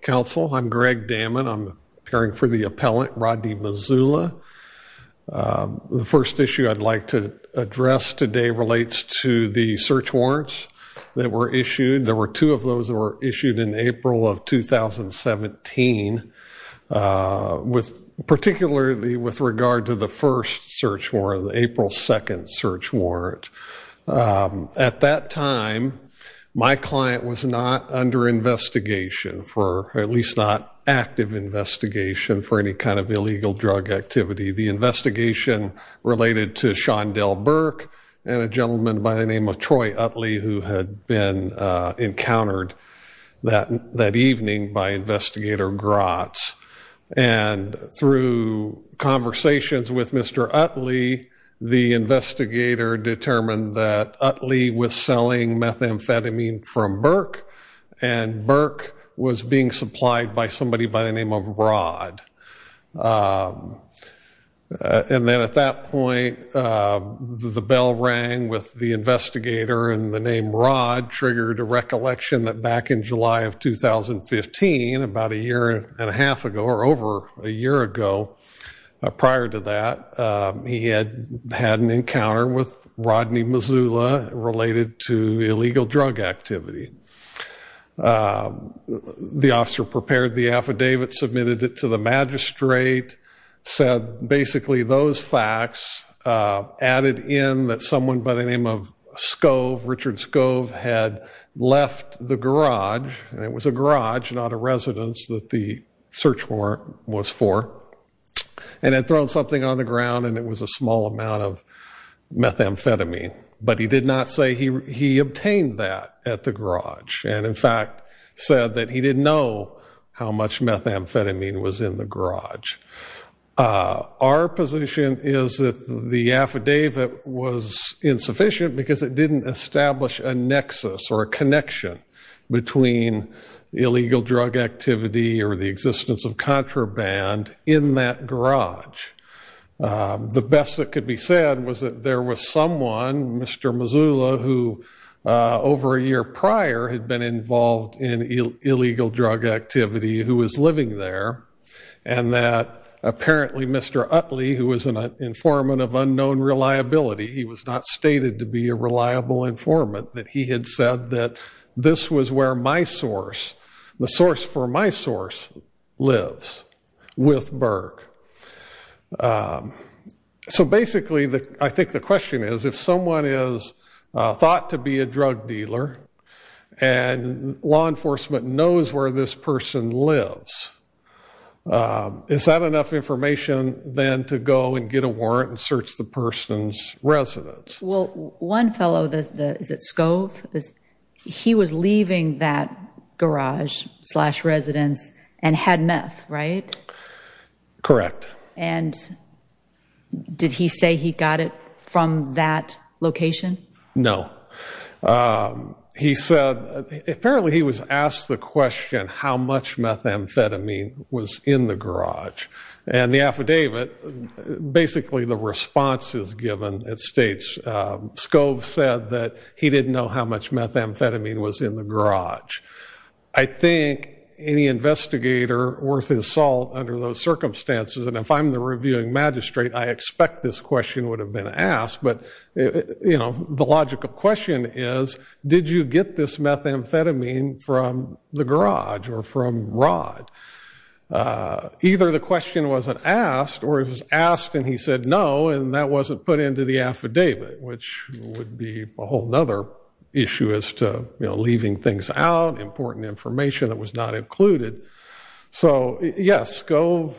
Council, I'm Greg Damman. I'm caring for the appellant, Rodney Mazzulla. The first issue I'd like to address today relates to the search warrants that were issued. There were two of those that were issued in April of 2017, with particularly with regard to the first search warrant, the April 2nd search warrant. At that time, my client was not under investigation for, at least not active investigation, for any kind of illegal drug activity. The investigation related to Shondell Burke and a gentleman by the name of Troy Utley, who had been encountered that evening by investigator Grotz. And through conversations with Mr. Utley, the investigator determined that Utley was selling methamphetamine from Burke, and Burke was being supplied by somebody by the name of Rod. And then at that point, the bell rang with the investigator, and the name Rod triggered a search warrant. And in 2015, about a year and a half ago, or over a year ago prior to that, he had had an encounter with Rodney Mazzulla related to illegal drug activity. The officer prepared the affidavit, submitted it to the magistrate, said basically those facts added in that someone by the name of Scove, Richard Scove, had left the garage, and it was a garage, not a residence that the search warrant was for, and had thrown something on the ground, and it was a small amount of methamphetamine. But he did not say he obtained that at the garage, and in fact said that he didn't know how much methamphetamine was in the garage. Our position is that the affidavit was insufficient because it didn't establish a nexus or a connection between illegal drug activity or the existence of contraband in that garage. The best that could be said was that there was someone, Mr. Mazzulla, who over a year prior had been involved in illegal drug activity who was living there, and that apparently Mr. Utley, who was an informant of unknown reliability, he was not stated to be a reliable informant, that he had said that this was where my source, the source for my source, lives with Burke. So basically I think the question is if someone is thought to be a drug dealer and law enforcement knows where this person lives, is that enough information then to go and get a warrant and search the person's residence? Well, one fellow, is it Scove? He was leaving that garage slash residence and had meth, right? Correct. And did he say he got it from that location? No. He said, apparently he was asked the question, how much methamphetamine was in the garage? And the affidavit, basically the response is given, it states Scove said that he didn't know how much methamphetamine was in the garage. I think any investigator worth his salt under those circumstances, and if I'm the reviewing magistrate, I expect this question would have been asked, but you know, the logical question is, did you get this methamphetamine from the garage or from Rod? Either the question wasn't asked or it was asked and he said no and that wasn't put into the affidavit, which would be a whole other issue as to, you know, leaving things out, important information that was not included. So yes, Scove,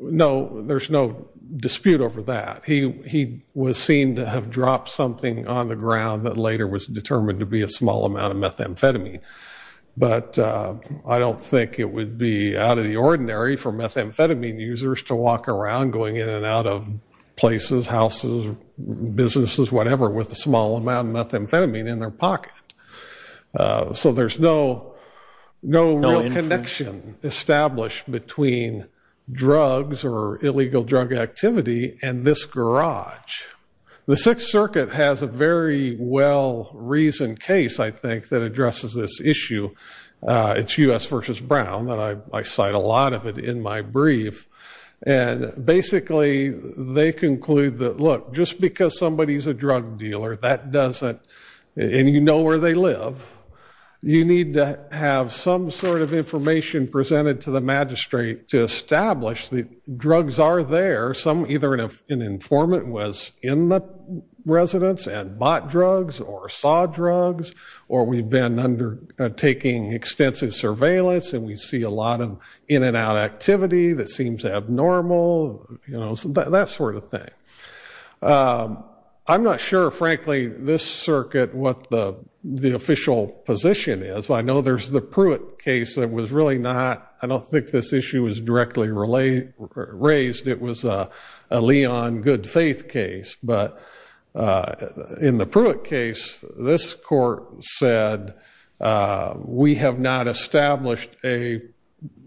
no, there's no dispute over that. He was seen to have dropped something on the ground that later was determined to be a small amount of methamphetamine, but I don't think it would be out of the ordinary for methamphetamine users to walk around going in and out of places, houses, businesses, whatever, with a small amount of methamphetamine in their pocket. So there's no real connection established between drugs or garage. The Sixth Circuit has a very well-reasoned case, I think, that addresses this issue. It's U.S. versus Brown, and I cite a lot of it in my brief, and basically they conclude that, look, just because somebody's a drug dealer, that doesn't, and you know where they live, you need to have some sort of information presented to the magistrate to establish that drugs are there, either an informant was in the residence and bought drugs or saw drugs, or we've been undertaking extensive surveillance and we see a lot of in-and-out activity that seems abnormal, you know, that sort of thing. I'm not sure, frankly, this Circuit, what the official position is. I know there's the Pruitt case that was really not, I don't think this issue was directly raised, it was a Leon good faith case, but in the Pruitt case, this court said, we have not established a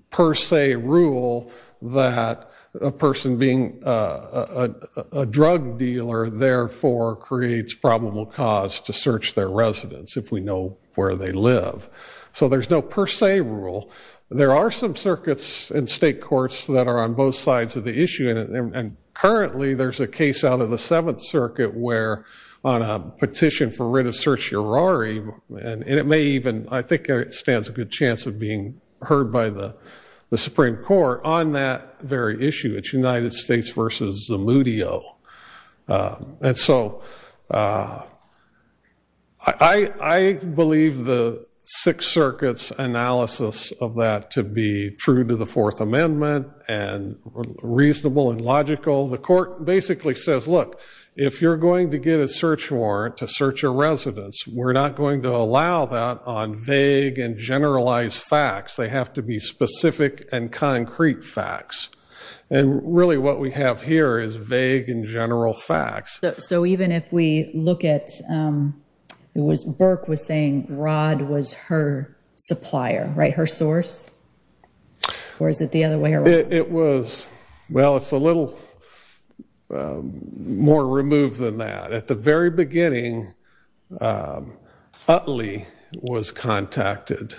per se rule that a person being a drug dealer, therefore, creates probable cause to search their residence, if we know where they live. So there's no per se rule. There are some circuits in state courts that are on both sides of the issue, and currently there's a case out of the Seventh Circuit where on a petition for writ of certiorari, and it may even, I think it stands a good chance of being heard by the Supreme Court on that very issue, it's United States versus Zamudio. And so I believe the Sixth Circuit's analysis of that to be true to the Fourth Amendment and reasonable and logical. The court basically says, look, if you're going to get a search warrant to search a residence, we're not going to allow that on vague and generalized facts. They have to be specific and concrete facts. And really what we have here is vague and general facts. So even if we look at, it was Burke was saying Rod was her supplier, right? Her source? Or is it the other way around? It was, well, it's a little more removed than that. At the very beginning, Utley was contacted.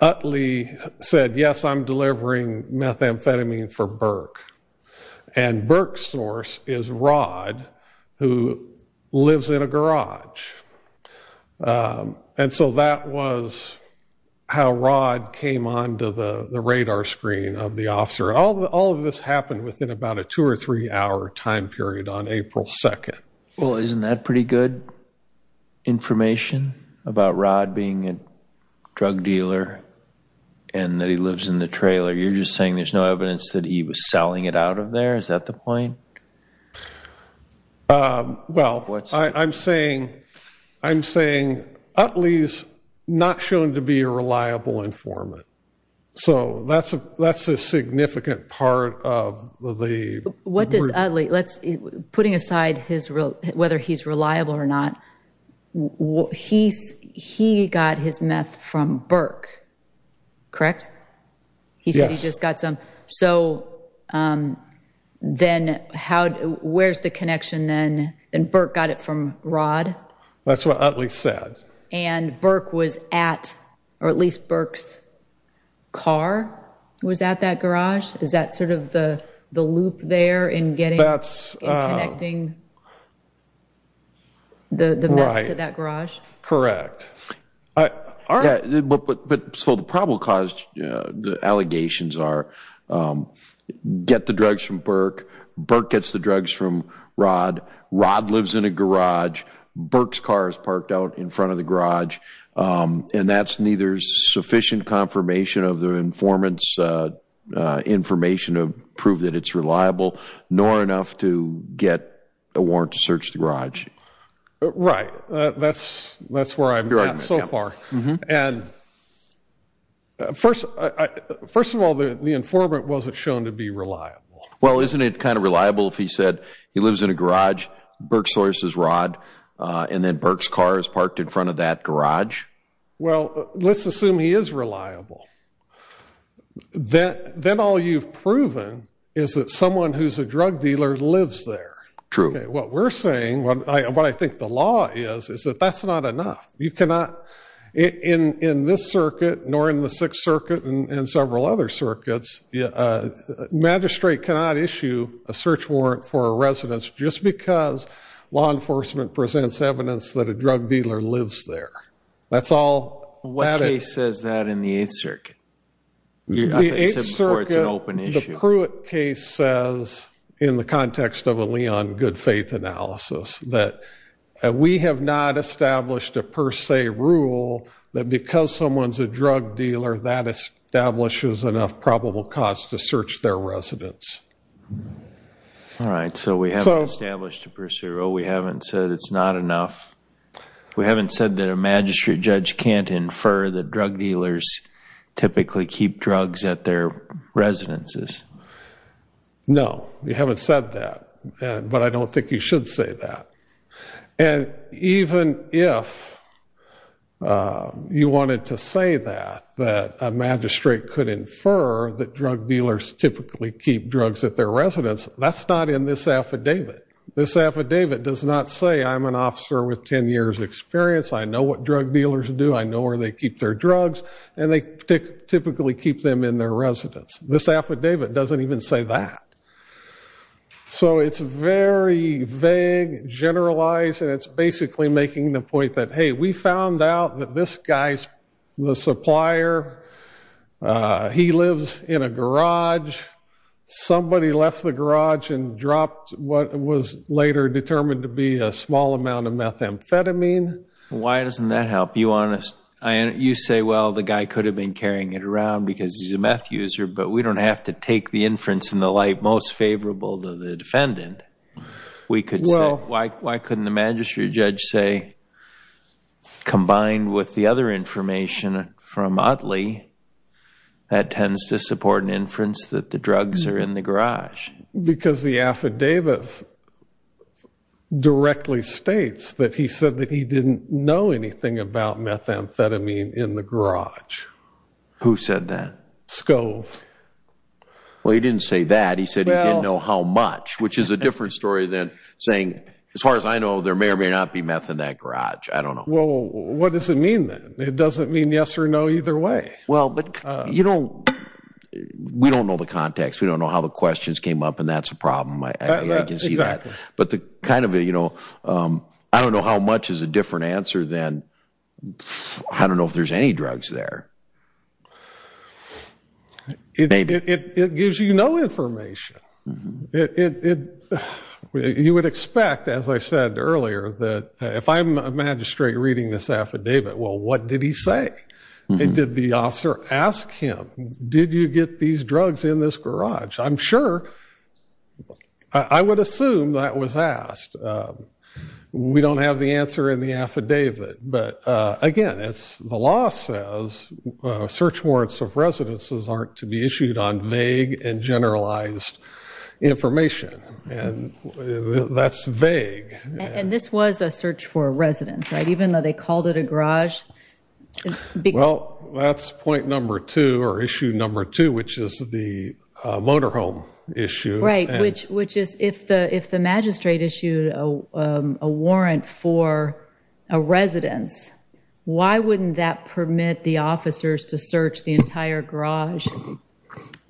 Utley said, yes, I'm delivering methamphetamine for Burke. And Burke's source is Rod, who lives in a garage. And so that was how Rod came onto the radar screen of the officer. All of this happened within about a two or three hour time period on April 2nd. Well, isn't that pretty good information about Rod being a drug dealer and that he lives in the trailer? You're just saying there's no evidence that he was selling it out of there? Is that the point? Well, I'm saying, Utley's not shown to be a reliable informant. So that's a significant part of the... What does Utley, putting aside whether he's reliable or not, he got his meth from Burke, correct? He said he just got some. So then where's the connection then? And Burke got it from Rod? That's what Utley said. And Burke was at, or at least Burke's car was at that garage? Is that sort of the loop there in getting and connecting the meth to that garage? Correct. But so the probable cause, the allegations are, get the drugs from Burke. Burke gets the drugs from Rod. Rod lives in a garage. Burke's car is parked out in front of the garage. And that's neither sufficient confirmation of the informant's information to prove that it's reliable, nor Right. That's where I'm at so far. And first of all, the informant wasn't shown to be reliable. Well, isn't it kind of reliable if he said he lives in a garage, Burke sources Rod, and then Burke's car is parked in front of that garage? Well, let's assume he is reliable. Then all you've proven is that someone who's a drug dealer lives there. True. What we're saying, what I think the law is, is that that's not enough. You cannot, in this circuit, nor in the Sixth Circuit and several other circuits, magistrate cannot issue a search warrant for a residence just because law enforcement presents evidence that a drug dealer lives there. That's all. What case says that in the Eighth Circuit? The Eighth Circuit, the Pruitt case says, in the context of a Leon good faith analysis, that we have not established a per se rule that because someone's a drug dealer, that establishes enough probable cause to search their residence. All right. So we haven't established a per se rule. We haven't said it's not enough. We haven't said that a magistrate judge can't infer that drug dealers typically keep drugs at their residences. No, you haven't said that, but I don't think you should say that. And even if you wanted to say that, that a magistrate could infer that drug dealers typically keep drugs at their residence, that's not in this affidavit. This affidavit does not say, I'm an officer with 10 years experience, I know what drug dealers do, I know where they keep their drugs, and they typically keep them in their residence. This affidavit doesn't even say that. So it's very vague, generalized, and it's basically making the point that, hey, we found out that this guy's the supplier. He lives in a garage. Somebody left the garage and dropped what was later determined to be a small amount of methamphetamine. Why doesn't that help? You say, well, the guy could have been carrying it around because he's a meth user, but we don't have to take the inference in the light most favorable to the defendant. We could say, well, why couldn't the magistrate judge say, combined with the other information from Utley, that tends to support an inference that the drugs are in the garage? Because the affidavit directly states that he said that he didn't know anything about methamphetamine in the garage. Who said that? Scove. Well, he didn't say that. He said he didn't know how much, which is a different story than saying, as far as I know, there may or may not be meth in that garage. I don't know. Well, what does it mean then? It doesn't mean yes or no either way. Well, but you don't, we don't know the context. We don't know how the questions came up, and that's a problem. But the kind of, you know, I don't know how much is a different answer than, I don't know if there's any drugs there. It gives you no information. You would expect, as I said earlier, that if I'm a magistrate reading this affidavit, well, what did he say? Did the officer ask him, did you get these drugs in this garage? I'm sure, I would assume that was asked. We don't have the answer in the affidavit. But again, it's, the law says search warrants of residences aren't to be issued on vague and generalized information, and that's vague. And this was a search for a resident, right? Even though they called it a garage. Well, that's point number two, or issue number two, which is the motorhome issue. Which is, if the magistrate issued a warrant for a residence, why wouldn't that permit the officers to search the entire garage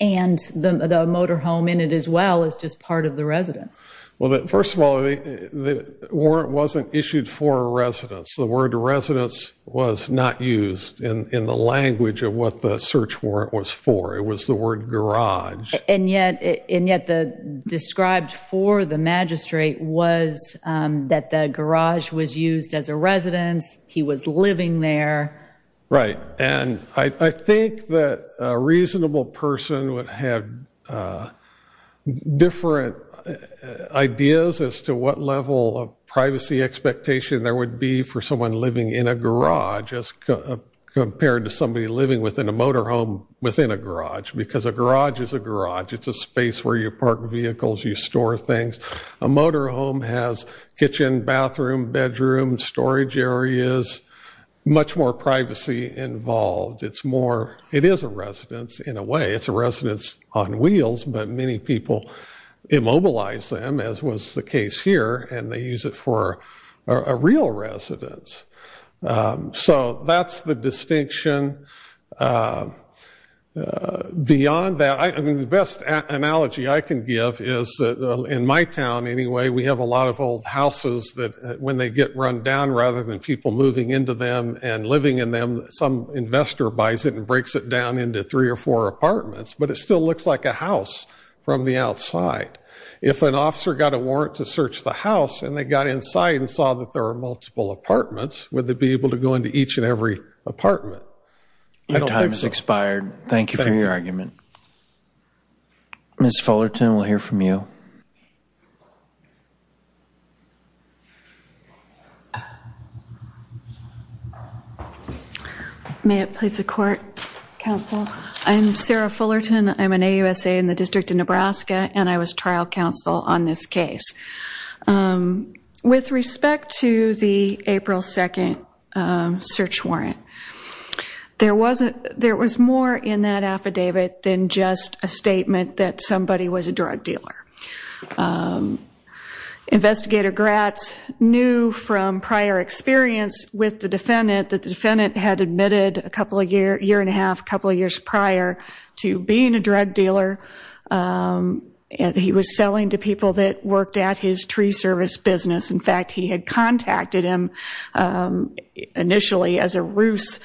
and the motorhome in it as well as just part of the residence? Well, first of all, the warrant wasn't issued for a residence. The word residence was not used in the language of what the search warrant was for. It was the word garage. And yet, the described for the magistrate was that the garage was used as a residence. He was living there. Right, and I think that a reasonable person would have different ideas as to what level of privacy expectation there would be for someone living in a garage as compared to somebody living within a motorhome within a garage. Because a garage is a garage. It's a space where you park vehicles, you store things. A motorhome has kitchen, bathroom, bedroom, storage areas, much more privacy involved. It's more, it is a residence in a way. It's a residence on wheels, but many people immobilize them, as was the case here. And they use it for a real residence. So that's the distinction. Beyond that, I mean, the best analogy I can give is in my town anyway, we have a lot of old houses that when they get run down, rather than people moving into them and living in them, some investor buys it and breaks it down into three or four apartments. But it still looks like a house from the outside. If an officer got a warrant to search the house, and they got inside and saw that there are multiple apartments, would they be able to go into each and every apartment? Your time has expired. Thank you for your argument. Ms. Fullerton, we'll hear from you. May it please the court, counsel. I'm Sarah Fullerton. I'm an AUSA in the District of Nebraska, and I was trial counsel on this case. With respect to the April 2nd search warrant, there was more in that affidavit than just a statement that somebody was a drug dealer. Investigator Gratz knew from prior experience with the defendant that the defendant had admitted a year and a half, a couple of years prior to being a drug dealer. And he was selling to people that worked at his tree service business. In fact, he had contacted him initially as a roost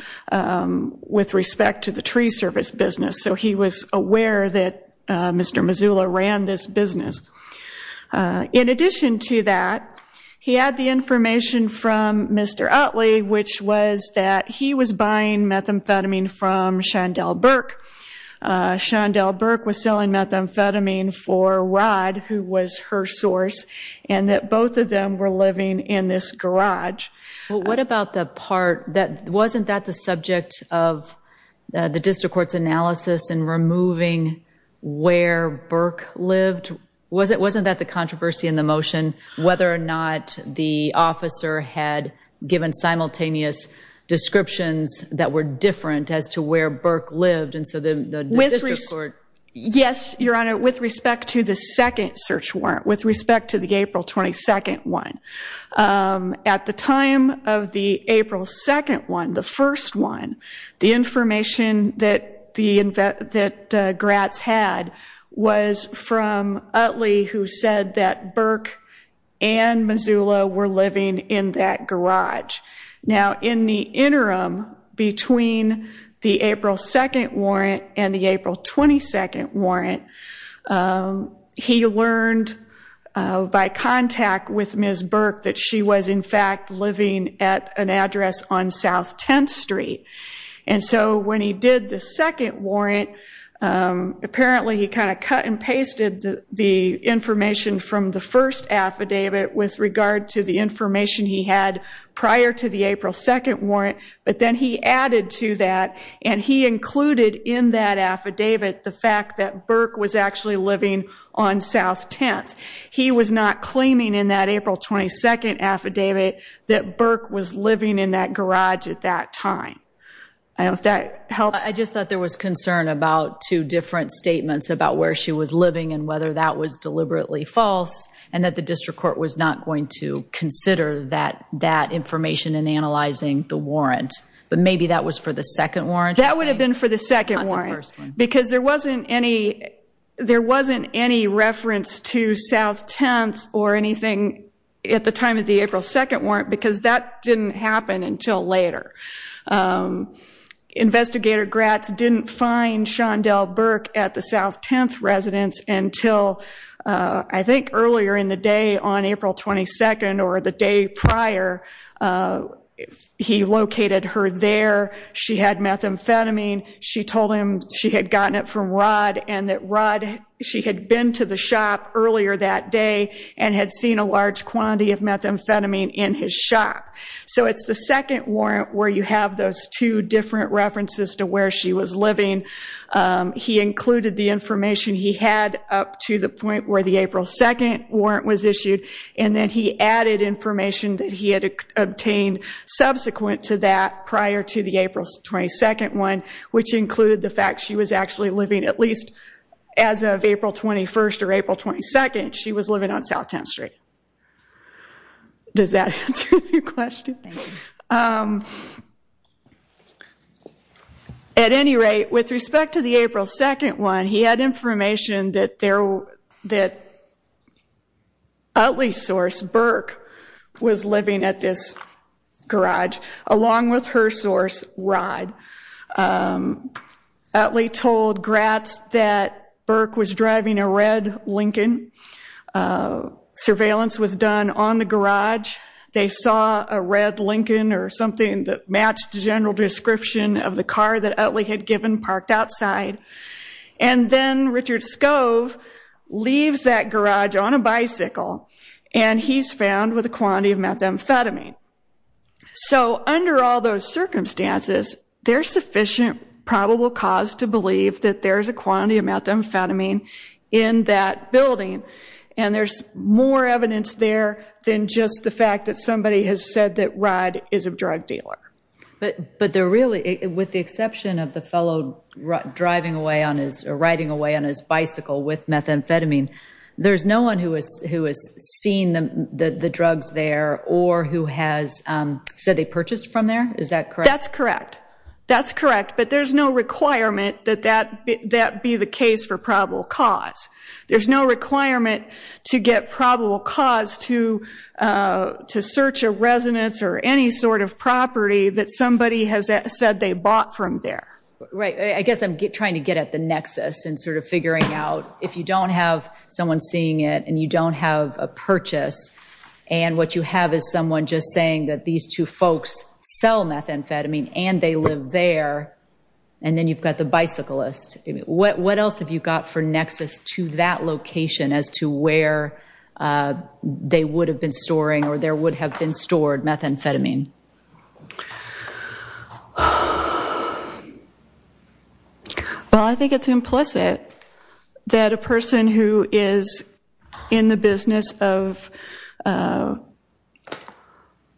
with respect to the tree service business. So he was aware that Mr. Mazula ran this business. In addition to that, he had the information from Mr. Utley, which was that he was buying methamphetamine from Shondell Burke. Shondell Burke was selling methamphetamine for Rod, who was her source, and that both of them were living in this garage. What about the part that, wasn't that the subject of the district court's analysis in removing where Burke lived? Wasn't that the controversy in the motion, whether or not the officer had given simultaneous descriptions that were different as to where Burke lived? And so the district court- Yes, Your Honor, with respect to the second search warrant, with respect to the April 22nd one. At the time of the April 2nd one, the first one, the information that Gratz had was from Utley, who said that Burke and Mazula were living in that garage. Now in the interim between the April 2nd warrant and the April 22nd warrant, he learned by contact with Ms. Burke that she was in fact living at an address on South 10th Street. And so when he did the second warrant, apparently he kind of cut and pasted the information from the first affidavit with regard to the information he had prior to the April 2nd warrant. But then he added to that and he included in that affidavit the fact that Burke was actually living on South 10th. He was not claiming in that April 22nd affidavit that Burke was living in that garage at that time. I don't know if that helps. I just thought there was concern about two different statements about where she was living and whether that was deliberately false and that the district court was not going to consider that information in analyzing the warrant. But maybe that was for the second warrant? That would have been for the second warrant. Because there wasn't any reference to South 10th or anything at the time of the April 2nd warrant because that didn't happen until later. Investigator Gratz didn't find Shondell Burke at the South 10th residence until I think earlier in the day on April 22nd or the day prior. He located her there. She had methamphetamine. She told him she had gotten it from Rod and that Rod, she had been to the shop earlier that day and had seen a large quantity of methamphetamine in his shop. So it's the second warrant where you have those two different references to where she was living. He included the information he had up to the point where the April 2nd warrant was issued and then he added information that he had obtained subsequent to that prior to the April 22nd one, which included the fact she was actually living at least as of April 21st or April 22nd, she was living on South 10th Street. Does that answer your question? Thank you. At any rate, with respect to the April 2nd one, he had information that there, that Utley's source, Burke, was living at this garage along with her source, Rod. Utley told Gratz that Burke was driving a red Lincoln. Surveillance was done on the garage. They saw a red Lincoln or something that matched the general description of the car that Utley had given parked outside. And then Richard Scove leaves that garage on a bicycle and he's found with a quantity of methamphetamine. So under all those circumstances, there's sufficient probable cause to believe that there's a quantity of methamphetamine in that building and there's more evidence there than just the fact that somebody has said that Rod is a drug dealer. But they're really, with the exception of the fellow driving away on his, riding away on his bicycle with methamphetamine, there's no one who has seen the drugs there or who has said they purchased from there? Is that correct? That's correct. That's correct. But there's no requirement that that be the case for probable cause. There's no requirement to get probable cause to search a residence or any sort of property that somebody has said they bought from there. Right. I guess I'm trying to get at the nexus and sort of figuring out, if you don't have someone seeing it and you don't have a purchase and what you have is someone just saying that these two folks sell methamphetamine and they live there and then you've got the bicyclist. What else have you got for nexus to that location as to where they would have been storing or there would have been stored methamphetamine? Well, I think it's implicit that a person who is in the business of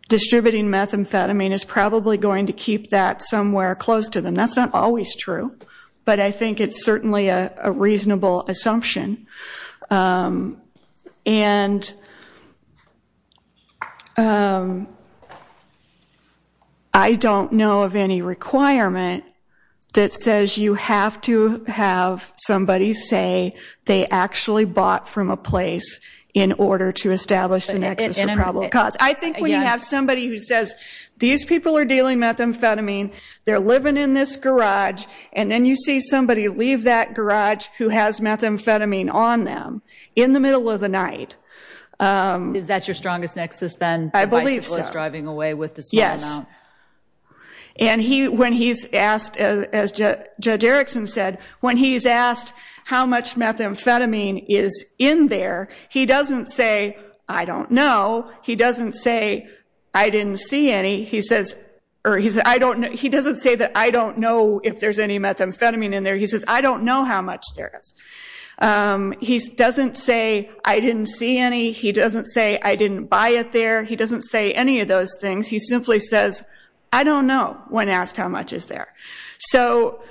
distributing methamphetamine is probably going to keep that somewhere close to them. That's not always true. But I think it's certainly a reasonable assumption. And I don't know of any requirement that says you have to have somebody say they actually bought from a place in order to establish the nexus for probable cause. I think when you have somebody who says, these people are dealing methamphetamine, they're living in this garage and then you see somebody leave that garage who has methamphetamine on them in the middle of the night. Is that your strongest nexus then? I believe so. The bicyclist driving away with the small amount? Yes. And when he's asked, as Judge Erickson said, when he's asked how much methamphetamine is in there, he doesn't say, I don't know. He doesn't say, I didn't see any. He says, I don't know. He doesn't say that I don't know if there's any methamphetamine in there. He says, I don't know how much there is. He doesn't say, I didn't see any. He doesn't say, I didn't buy it there. He doesn't say any of those things. He simply says, I don't know when asked how much is there. So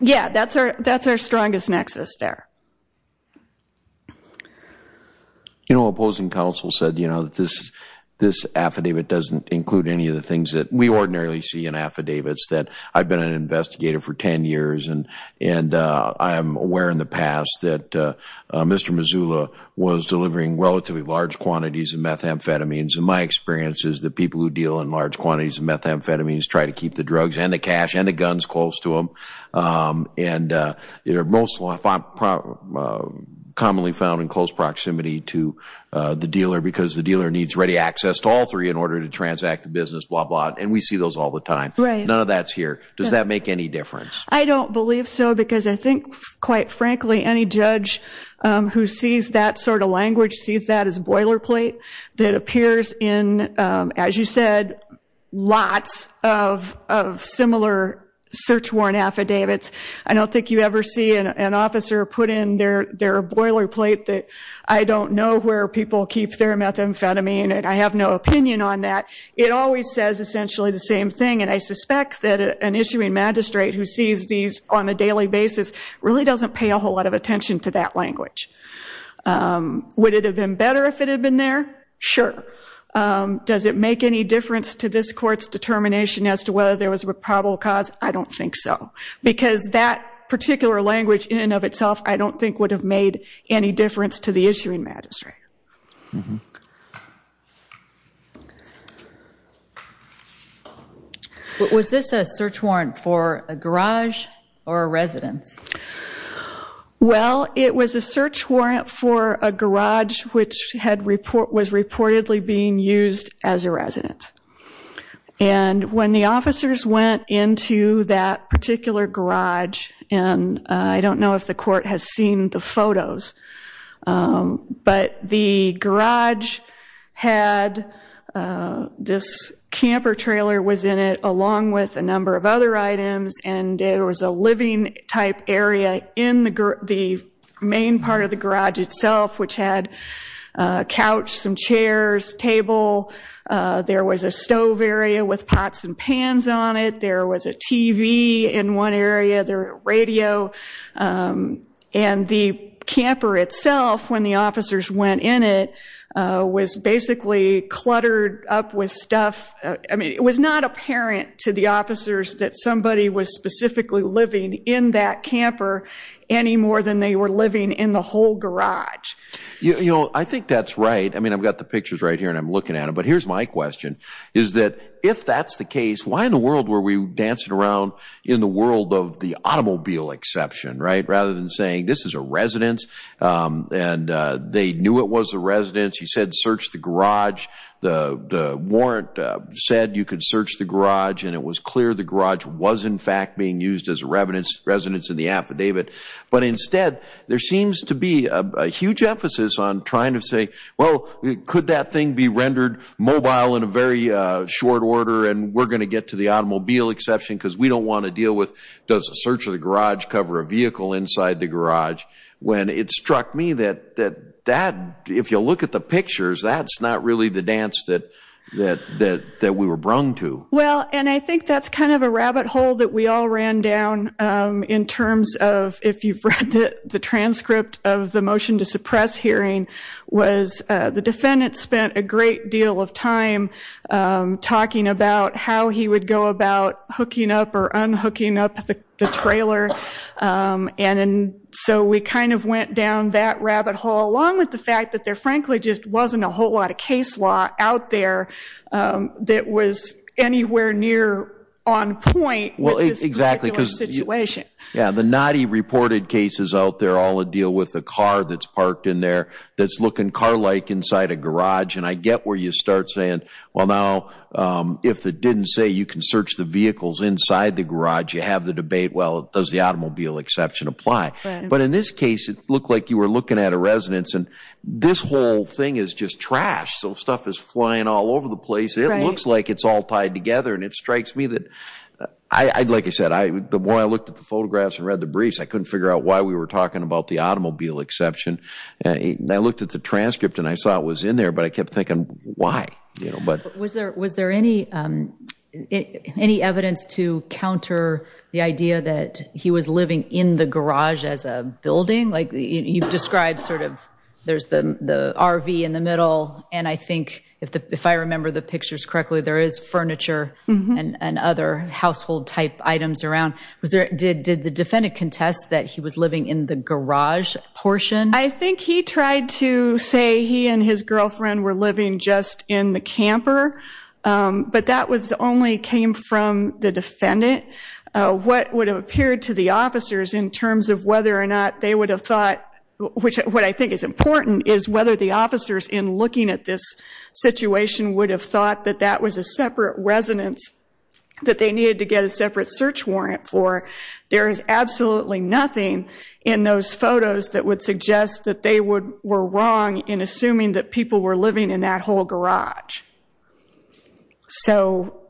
yeah, that's our strongest nexus there. You know, opposing counsel said, you know, that this affidavit doesn't include any of the things that we ordinarily see in affidavits that I've been an investigator for 10 years. And I'm aware in the past that Mr. Mazzullo was delivering relatively large quantities of methamphetamines. And my experience is that people who deal in large quantities of methamphetamines try to keep the drugs and the cash and the guns close to them. And they're most commonly found in close proximity to the dealer because the dealer needs ready access to all three in order to transact the business, blah, blah. And we see those all the time. None of that's here. Does that make any difference? I don't believe so because I think, quite frankly, any judge who sees that sort of language sees that as a boilerplate that appears in, as you said, lots of similar search warrant affidavits. I don't think you ever see an officer put in their boilerplate that I don't know where people keep their methamphetamine and I have no opinion on that. It always says essentially the same thing. I suspect that an issuing magistrate who sees these on a daily basis really doesn't pay a whole lot of attention to that language. Would it have been better if it had been there? Sure. Does it make any difference to this court's determination as to whether there was a probable cause? I don't think so because that particular language in and of itself I don't think would have made any difference to the issuing magistrate. Was this a search warrant for a garage or a residence? Well, it was a search warrant for a garage which was reportedly being used as a residence. And when the officers went into that particular garage, and I don't know if the court has seen the photos, but the garage had this camper trailer was in it along with a number of other items and there was a living type area in the main part of the garage itself which had a couch, some chairs, table. There was a stove area with pots and pans on it. There was a TV in one area, the radio. And the camper itself when the officers went in it was basically cluttered up with stuff. I mean, it was not apparent to the officers that somebody was specifically living in that camper any more than they were living in the whole garage. I think that's right. I mean, I've got the pictures right here and I'm looking at it. But here's my question is that if that's the case, why in the world were we dancing around in the world of the automobile exception, right? Rather than saying this is a residence and they knew it was a residence. He said, search the garage. The warrant said you could search the garage and it was clear the garage was in fact being used as a residence in the affidavit. But instead, there seems to be a huge emphasis on trying to say, well, could that thing be rendered mobile in a very short order and we're going to get to the automobile exception because we don't want to deal with does the search of the garage cover a vehicle inside the garage? When it struck me that if you look at the pictures, that's not really the dance that we were brung to. Well, and I think that's kind of a rabbit hole that we all ran down in terms of if you've read the transcript of the motion to suppress hearing was the defendant spent a great deal of time talking about how he would go about hooking up or unhooking up the trailer. And so we kind of went down that rabbit hole along with the fact that there frankly just wasn't a whole lot of case law out there that was anywhere near on point with this particular situation. Yeah, the naughty reported cases out there all would deal with the car that's parked in there that's looking car-like inside a garage. And I get where you start saying, well, now if it didn't say you can search the vehicles inside the garage, you have the debate, well, does the automobile exception apply? But in this case, it looked like you were looking at a residence and this whole thing is just trash. So stuff is flying all over the place. It looks like it's all tied together. And it strikes me that, like I said, the more I looked at the photographs and read the briefs, I couldn't figure out why we were talking about the automobile exception. I looked at the transcript and I saw it was in there, but I kept thinking, why? Was there any evidence to counter the idea that he was living in the garage as a building? Like you've described sort of, there's the RV in the middle. And I think if I remember the pictures correctly, there is furniture and other household type items around. Did the defendant contest that he was living in the garage portion? I think he tried to say he and his girlfriend were living just in the camper, but that only came from the defendant. What would have appeared to the officers in terms of whether or not they would have thought, which what I think is important, is whether the officers in looking at this situation would have thought that that was a separate residence that they needed to get a separate search warrant for. There is absolutely nothing in those photos that would suggest that they were wrong in assuming that people were living in that whole garage. So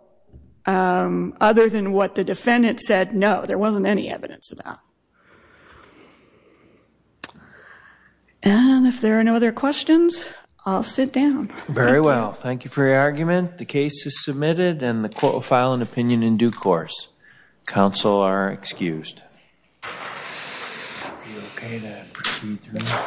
other than what the defendant said, no, there wasn't any evidence of that. And if there are no other questions, I'll sit down. Very well. Thank you for your argument. The case is submitted and the court will file an opinion in due course. Counsel are excused. If you're okay, then proceed to the next one.